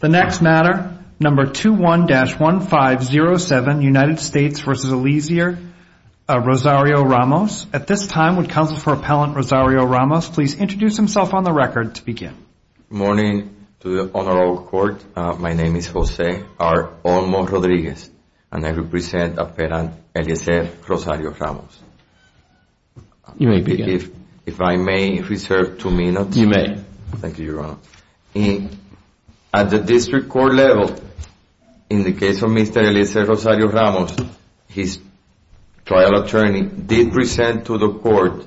The next matter, number 21-1507, United States v. Elisir, Rosario-Ramos. At this time, would Counsel for Appellant Rosario-Ramos please introduce himself on the record to begin. Good morning to the Honorable Court. My name is Jose R. Olmo Rodriguez, and I represent Appellant Elisir Rosario-Ramos. You may begin. If I may reserve two minutes. You may. Thank you, Your Honor. At the district court level, in the case of Mr. Elisir Rosario-Ramos, his trial attorney did present to the court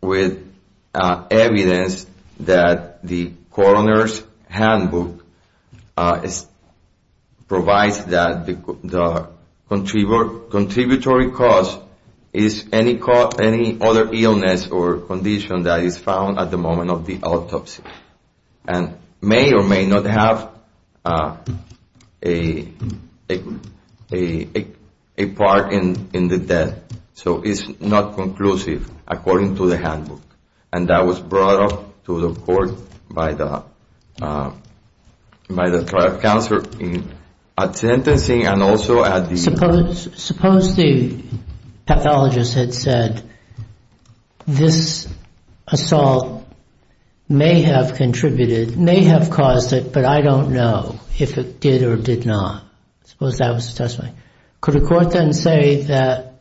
with evidence that the coroner's handbook provides that the contributory cause is any other illness or condition that is found at the moment of the autopsy, and may or may not have a part in the death. So it's not conclusive according to the handbook. And that was brought up to the court by the trial counsel at sentencing and also at the... Suppose the pathologist had said this assault may have contributed, may have caused it, but I don't know if it did or did not. Suppose that was the testimony. Could a court then say that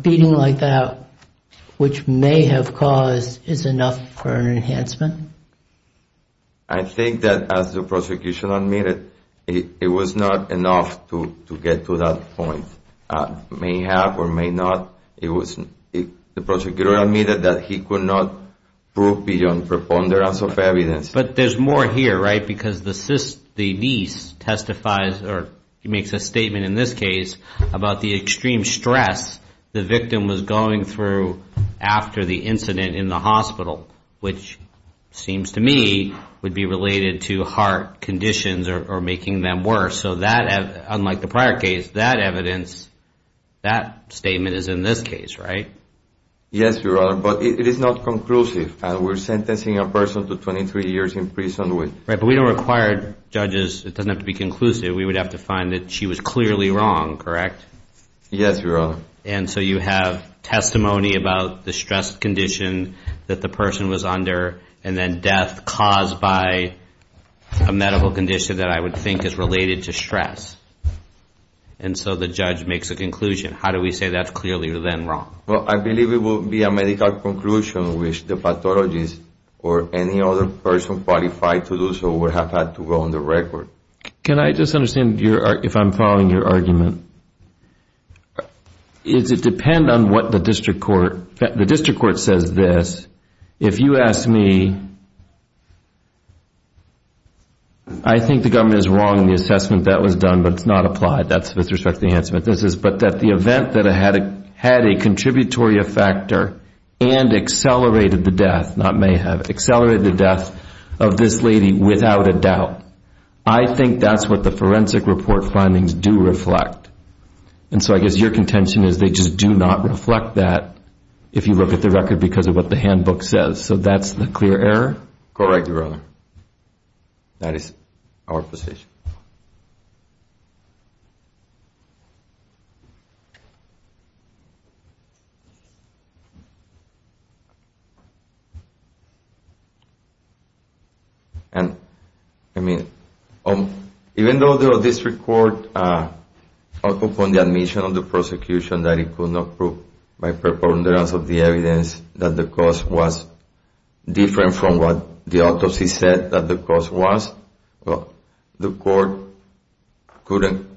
beating like that, which may have caused, is enough for an enhancement? I think that as the prosecution admitted, it was not enough to get to that point. May have or may not. The prosecutor admitted that he could not prove beyond preponderance of evidence. But there's more here, right? Because the niece testifies or makes a statement in this case about the extreme stress the victim was going through after the incident in the hospital, which seems to me would be related to heart conditions or making them worse. So that, unlike the prior case, that evidence, that statement is in this case, right? Yes, Your Honor. But it is not conclusive. We're sentencing a person to 23 years in prison with... Right, but we don't require judges. It doesn't have to be conclusive. We would have to find that she was clearly wrong, correct? Yes, Your Honor. And so you have testimony about the stress condition that the person was under and then death caused by a medical condition that I would think is related to stress. And so the judge makes a conclusion. How do we say that's clearly then wrong? Well, I believe it would be a medical conclusion which the pathologist or any other person qualified to do so would have had to go on the record. Can I just understand if I'm following your argument? Does it depend on what the district court... The district court says this, if you ask me, I think the government is wrong in the assessment that was done, but it's not applied. That's with respect to the enhancement. But that the event that it had a contributory factor and accelerated the death, not may have, accelerated the death of this lady without a doubt. I think that's what the forensic report findings do reflect. And so I guess your contention is they just do not reflect that if you look at the record because of what the handbook says. So that's the clear error? Correct, Your Honor. That is our position. And even though the district court upon the admission of the prosecution that it could not prove by preponderance of the evidence that the cause was different from what the autopsy said that the cause was, the court couldn't,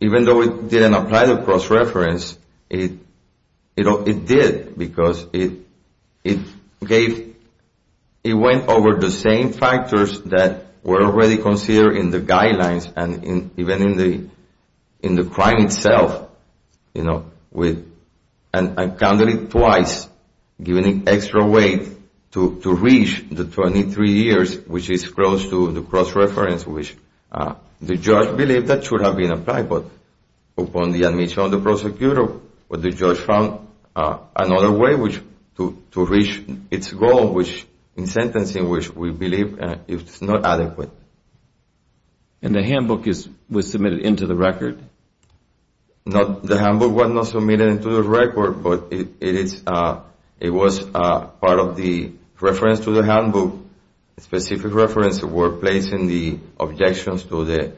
even though it didn't apply the cross-reference, it did because it went over the same factors that were already considered in the guidelines and even in the crime itself, and counted it twice, giving it extra weight to reach the 23 years, which is close to the cross-reference, which the judge believed that should have been applied. But upon the admission of the prosecutor, the judge found another way to reach its goal, in sentencing, which we believe is not adequate. And the handbook was submitted into the record? The handbook was not submitted into the record, but it was part of the reference to the handbook, a specific reference that we're placing the objections to the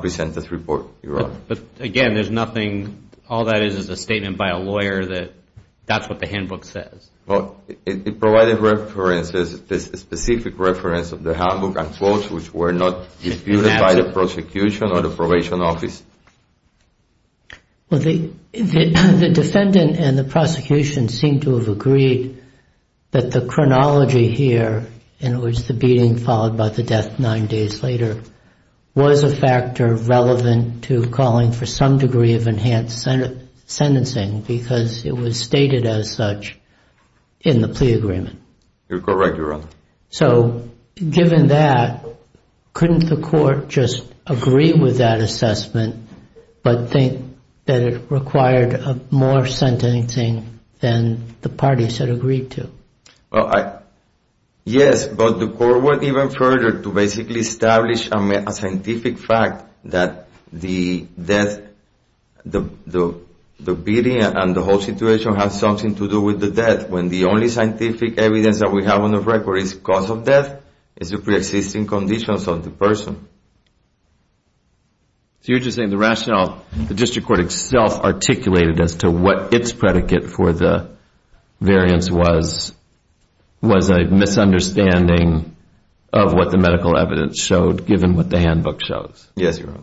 presented report, Your Honor. But again, there's nothing, all that is is a statement by a lawyer that that's what the handbook says. Well, it provided references, a specific reference of the handbook and quotes which were not disputed by the prosecution or the probation office. The defendant and the prosecution seem to have agreed that the chronology here in which the beating followed by the death nine days later was a factor relevant to calling for some degree of enhanced sentencing, because it was stated as such in the plea agreement. You're correct, Your Honor. So given that, couldn't the court just agree with that assessment, but think that it required more sentencing than the parties had agreed to? Well, yes, but the court went even further to basically establish a scientific fact that the death, the beating and the whole situation has something to do with the death, when the only scientific evidence that we have on the record is cause of death is the preexisting conditions of the person. So you're just saying the rationale, the district court itself articulated as to what its predicate for the variance was, was a misunderstanding of what the medical evidence showed given what the handbook shows. Yes, Your Honor.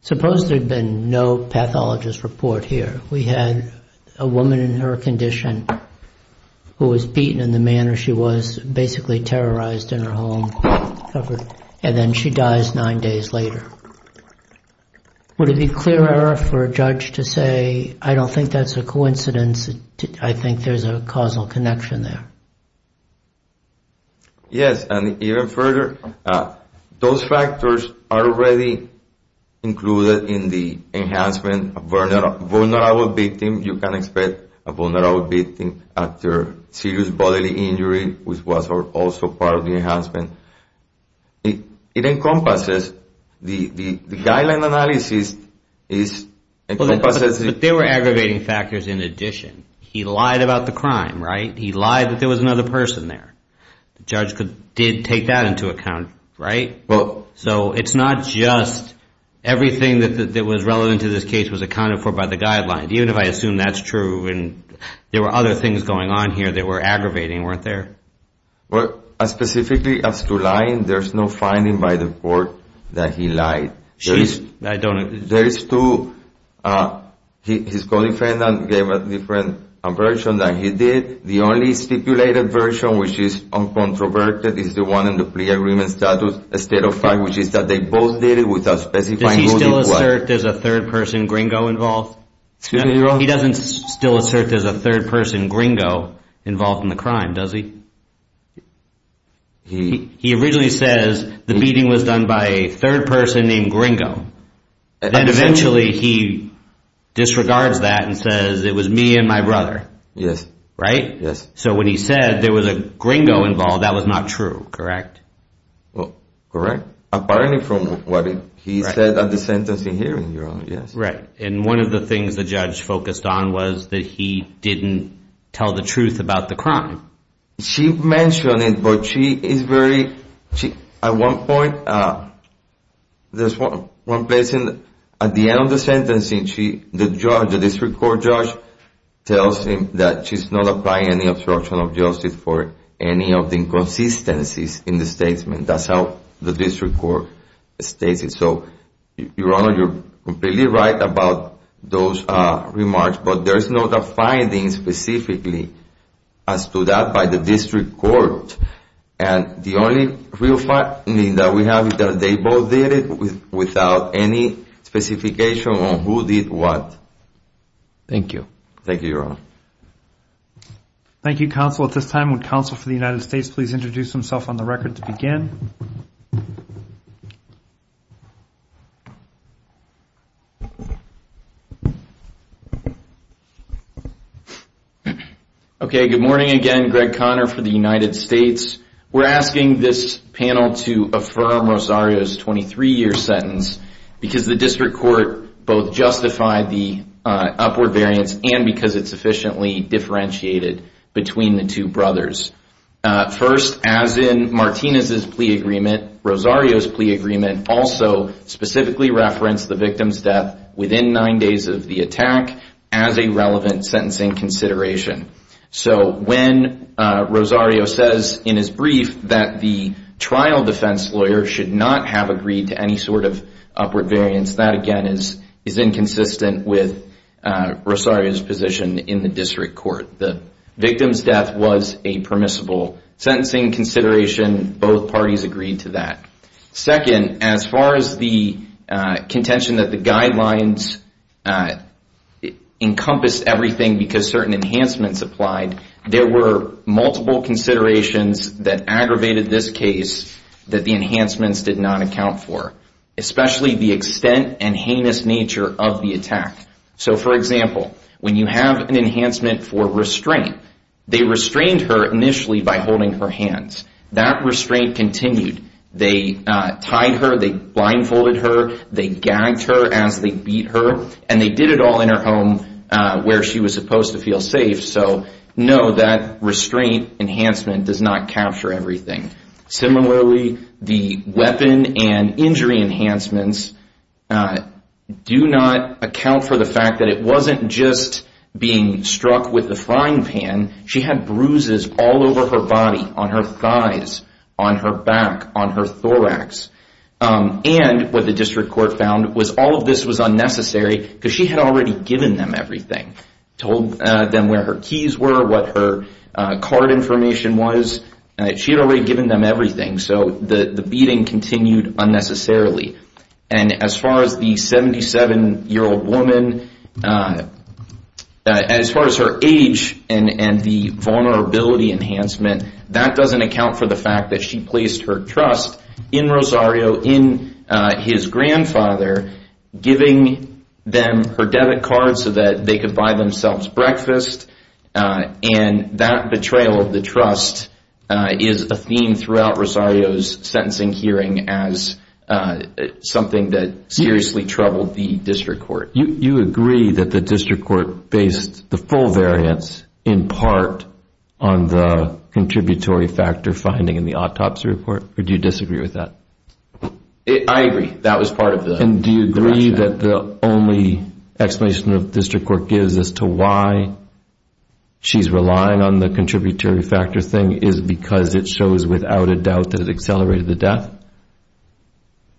Suppose there had been no pathologist report here. We had a woman in her condition who was beaten in the manner she was basically terrorized in her home, and then she dies nine days later. Would it be clear error for a judge to say, I don't think that's a coincidence, I think there's a causal connection there? Yes, and even further, those factors are already included in the enhancement. A vulnerable victim, you can expect a vulnerable victim after serious bodily injury which was also part of the enhancement. It encompasses the guideline analysis. But there were aggravating factors in addition. He lied about the crime, right? He lied that there was another person there. The judge did take that into account, right? So it's not just everything that was relevant to this case was accounted for by the guideline. Even if I assume that's true and there were other things going on here that were aggravating weren't there? Well, specifically as to lying, there's no finding by the court that he lied. There is two. His co-defendant gave a different version than he did. The only stipulated version which is uncontroverted is the one in the plea agreement status which is that they both did it with a specified motive. Does he still assert there's a third person gringo involved? Excuse me, Your Honor. No, he doesn't still assert there's a third person gringo involved in the crime, does he? He originally says the beating was done by a third person named gringo. And eventually he disregards that and says it was me and my brother, right? Yes. So when he said there was a gringo involved, that was not true, correct? Correct. Apparently from what he said at the sentencing hearing, Your Honor, yes. Right. And one of the things the judge focused on was that he didn't tell the truth about the crime. She mentioned it, but she is very, at one point, there's one place at the end of the sentencing, the district court judge tells him that she's not applying any obstruction of justice for any of the inconsistencies in the statement. That's how the district court states it. So, Your Honor, you're completely right about those remarks, but there's no finding specifically as to that by the district court. And the only real finding that we have is that they both did it without any specification on who did what. Thank you. Thank you, Your Honor. Thank you, counsel. At this time, would counsel for the United States please introduce himself on the record to begin? Okay, good morning again. Greg Conner for the United States. We're asking this panel to affirm Rosario's 23-year sentence because the district court both justified the upward variance and because it sufficiently differentiated between the two brothers. First, as in Martinez's plea agreement, Rosario's plea agreement also specifically referenced the victim's death within nine days of the attack as a relevant sentencing consideration. So when Rosario says in his brief that the trial defense lawyer should not have agreed to any sort of upward variance, that, again, is inconsistent with Rosario's position in the district court. The victim's death was a permissible sentencing consideration. Both parties agreed to that. Second, as far as the contention that the guidelines encompassed everything because certain enhancements applied, there were multiple considerations that aggravated this case that the enhancements did not account for, especially the extent and heinous nature of the attack. So, for example, when you have an enhancement for restraint, they restrained her initially by holding her hands. That restraint continued. They tied her, they blindfolded her, they gagged her as they beat her, and they did it all in her home where she was supposed to feel safe. So, no, that restraint enhancement does not capture everything. Similarly, the weapon and injury enhancements do not account for the fact that it wasn't just being struck with a frying pan. She had bruises all over her body, on her thighs, on her back, on her thorax. And what the district court found was all of this was unnecessary because she had already given them everything, told them where her keys were, what her card information was. She had already given them everything, so the beating continued unnecessarily. And as far as the 77-year-old woman, as far as her age and the vulnerability enhancement, that doesn't account for the fact that she placed her trust in Rosario, in his grandfather, giving them her debit card so that they could buy themselves breakfast. And that betrayal of the trust is a theme throughout Rosario's sentencing hearing as something that seriously troubled the district court. You agree that the district court based the full variance in part on the contributory factor finding in the autopsy report, or do you disagree with that? I agree. That was part of the rationale. And do you agree that the only explanation the district court gives as to why she's relying on the contributory factor thing is because it shows without a doubt that it accelerated the death?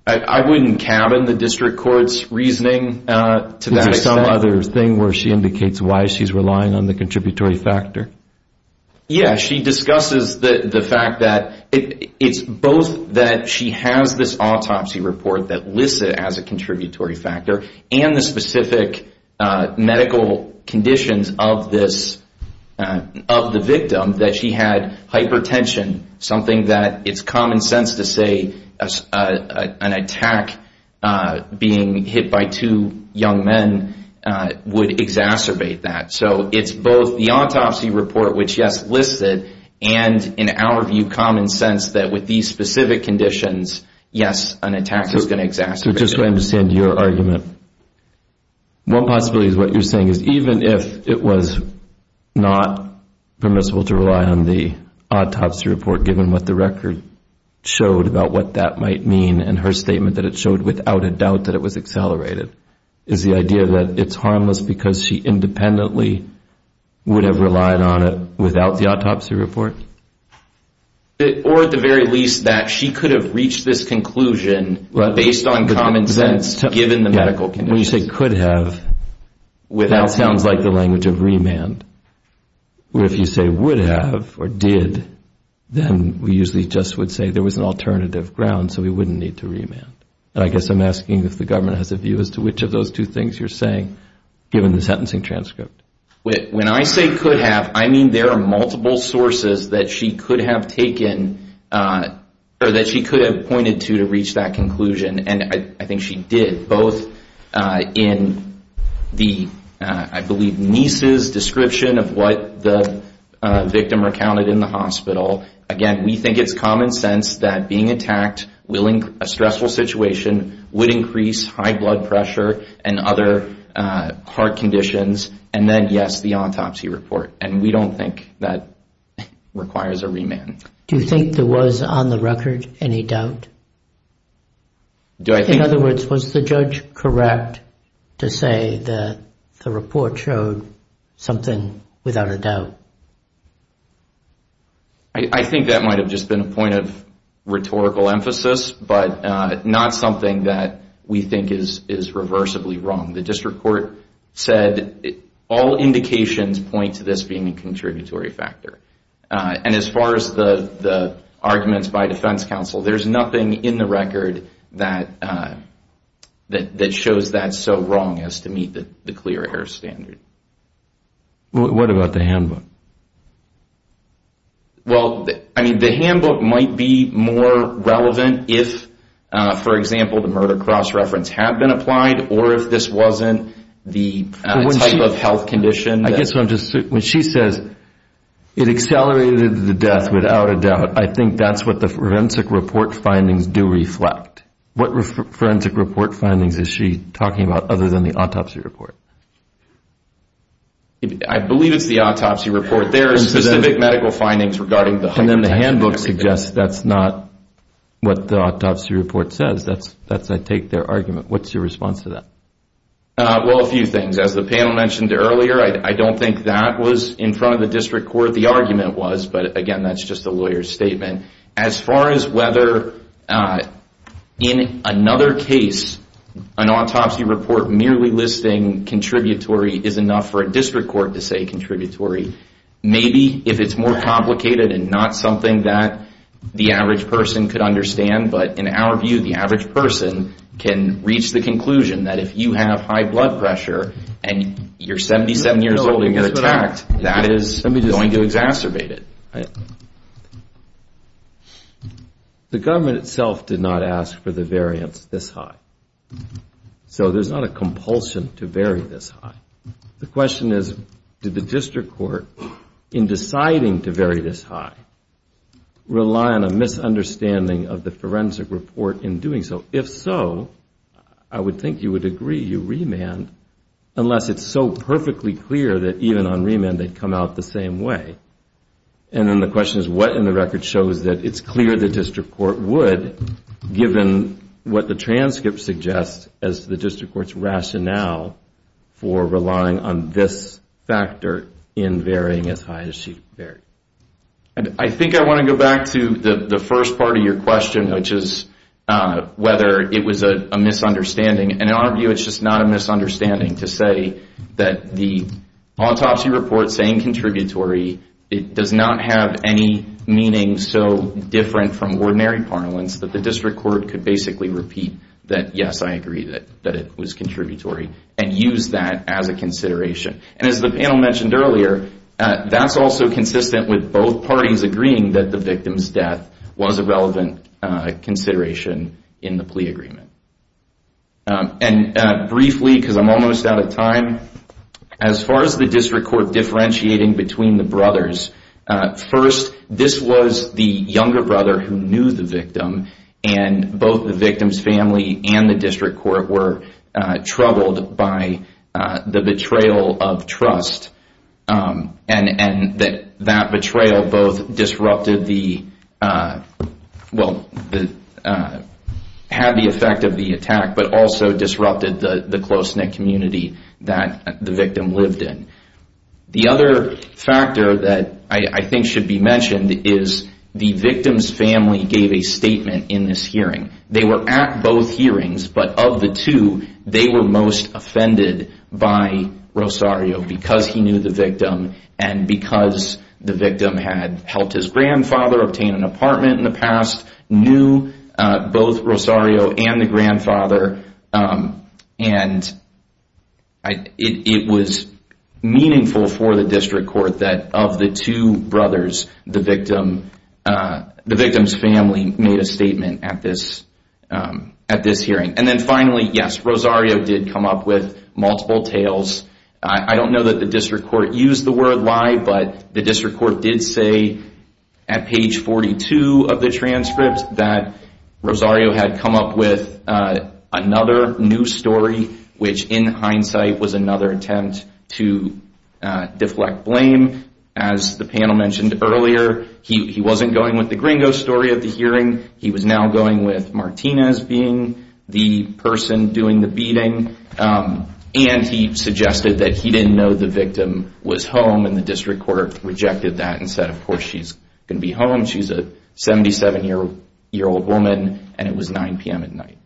I wouldn't cabin the district court's reasoning to that extent. Is there some other thing where she indicates why she's relying on the contributory factor? Yeah, she discusses the fact that it's both that she has this autopsy report that lists it as a contributory factor and the specific medical conditions of the victim that she had hypertension, something that it's common sense to say an attack being hit by two young men would exacerbate that. So it's both the autopsy report, which, yes, lists it, and in our view common sense that with these specific conditions, yes, an attack is going to exacerbate it. So just so I understand your argument, one possibility is what you're saying is even if it was not permissible to rely on the autopsy report given what the record showed about what that might mean and her statement that it showed without a doubt that it was accelerated, is the idea that it's harmless because she independently would have relied on it without the autopsy report? Or at the very least that she could have reached this conclusion based on common sense given the medical conditions. When you say could have, that sounds like the language of remand. Where if you say would have or did, then we usually just would say there was an alternative ground so we wouldn't need to remand. I guess I'm asking if the government has a view as to which of those two things you're saying given the sentencing transcript. When I say could have, I mean there are multiple sources that she could have pointed to to reach that conclusion, and I think she did both in the, I believe, niece's description of what the victim recounted in the hospital. Again, we think it's common sense that being attacked in a stressful situation would increase high blood pressure and other heart conditions, and then yes, the autopsy report, and we don't think that requires a remand. Do you think there was on the record any doubt? In other words, was the judge correct to say that the report showed something without a doubt? I think that might have just been a point of rhetorical emphasis, but not something that we think is reversibly wrong. The district court said all indications point to this being a contributory factor, and as far as the arguments by defense counsel, there's nothing in the record that shows that's so wrong as to meet the clear air standard. What about the handbook? Well, I mean the handbook might be more relevant if, for example, the murder cross-reference had been applied, or if this wasn't the type of health condition. When she says it accelerated the death without a doubt, I think that's what the forensic report findings do reflect. What forensic report findings is she talking about other than the autopsy report? I believe it's the autopsy report. There are specific medical findings regarding the hypertension. And then the handbook suggests that's not what the autopsy report says. That's, I take, their argument. What's your response to that? Well, a few things. As the panel mentioned earlier, I don't think that was in front of the district court the argument was, but, again, that's just a lawyer's statement. And as far as whether in another case an autopsy report merely listing contributory is enough for a district court to say contributory, maybe if it's more complicated and not something that the average person could understand, but in our view the average person can reach the conclusion that if you have high blood pressure and you're 77 years old and get attacked, that is going to exacerbate it. The government itself did not ask for the variance this high. So there's not a compulsion to vary this high. The question is, did the district court, in deciding to vary this high, rely on a misunderstanding of the forensic report in doing so? If so, I would think you would agree you remand unless it's so perfectly clear that even on remand they'd come out the same way. And then the question is, what in the record shows that it's clear the district court would, given what the transcript suggests as the district court's rationale for relying on this factor in varying as high as she varied? I think I want to go back to the first part of your question, which is whether it was a misunderstanding, and in our view it's just not a misunderstanding to say that the autopsy report saying contributory, it does not have any meaning so different from ordinary parlance that the district court could basically repeat that, yes, I agree that it was contributory and use that as a consideration. And as the panel mentioned earlier, that's also consistent with both parties agreeing that the victim's death was a relevant consideration in the plea agreement. And briefly, because I'm almost out of time, as far as the district court differentiating between the brothers, first, this was the younger brother who knew the victim, and both the victim's family and the district court were troubled by the betrayal of trust. And that betrayal both disrupted the, well, had the effect of the attack, but also disrupted the close-knit community that the victim lived in. The other factor that I think should be mentioned is the victim's family gave a statement in this hearing. They were at both hearings, but of the two, they were most offended by Rosario because he knew the victim and because the victim had helped his grandfather obtain an apartment in the past, knew both Rosario and the grandfather, and it was meaningful for the district court that of the two brothers, the victim's family made a statement at this hearing. And then finally, yes, Rosario did come up with multiple tales. I don't know that the district court used the word lie, but the district court did say at page 42 of the transcript that Rosario had come up with another new story, which in hindsight was another attempt to deflect blame. As the panel mentioned earlier, he wasn't going with the gringo story of the hearing. He was now going with Martinez being the person doing the beating, and he suggested that he didn't know the victim was home, and the district court rejected that and said, of course, she's going to be home. She's a 77-year-old woman, and it was 9 p.m. at night.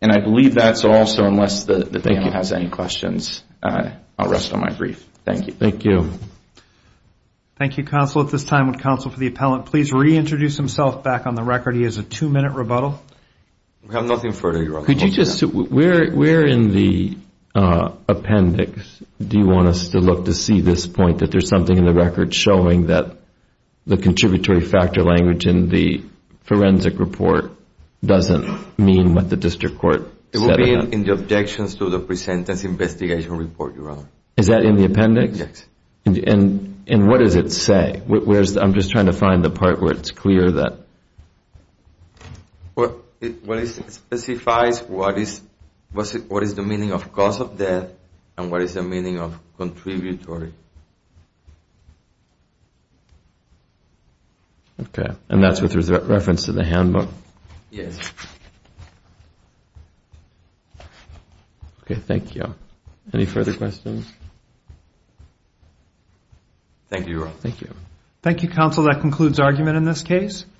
And I believe that's all, so unless the panel has any questions, I'll rest on my brief. Thank you. Thank you, counsel. At this time, would counsel for the appellant please reintroduce himself back on the record? He has a two-minute rebuttal. We have nothing further, Your Honor. Where in the appendix do you want us to look to see this point, that there's something in the record showing that the contributory factor language in the forensic report doesn't mean what the district court said about it? It will be in the objections to the presentence investigation report, Your Honor. Is that in the appendix? Yes. And what does it say? I'm just trying to find the part where it's clear that. It specifies what is the meaning of cause of death and what is the meaning of contributory. Okay, and that's with reference to the handbook? Yes. Okay, thank you. Any further questions? Thank you, Your Honor. Thank you. Thank you, counsel. That concludes argument in this case.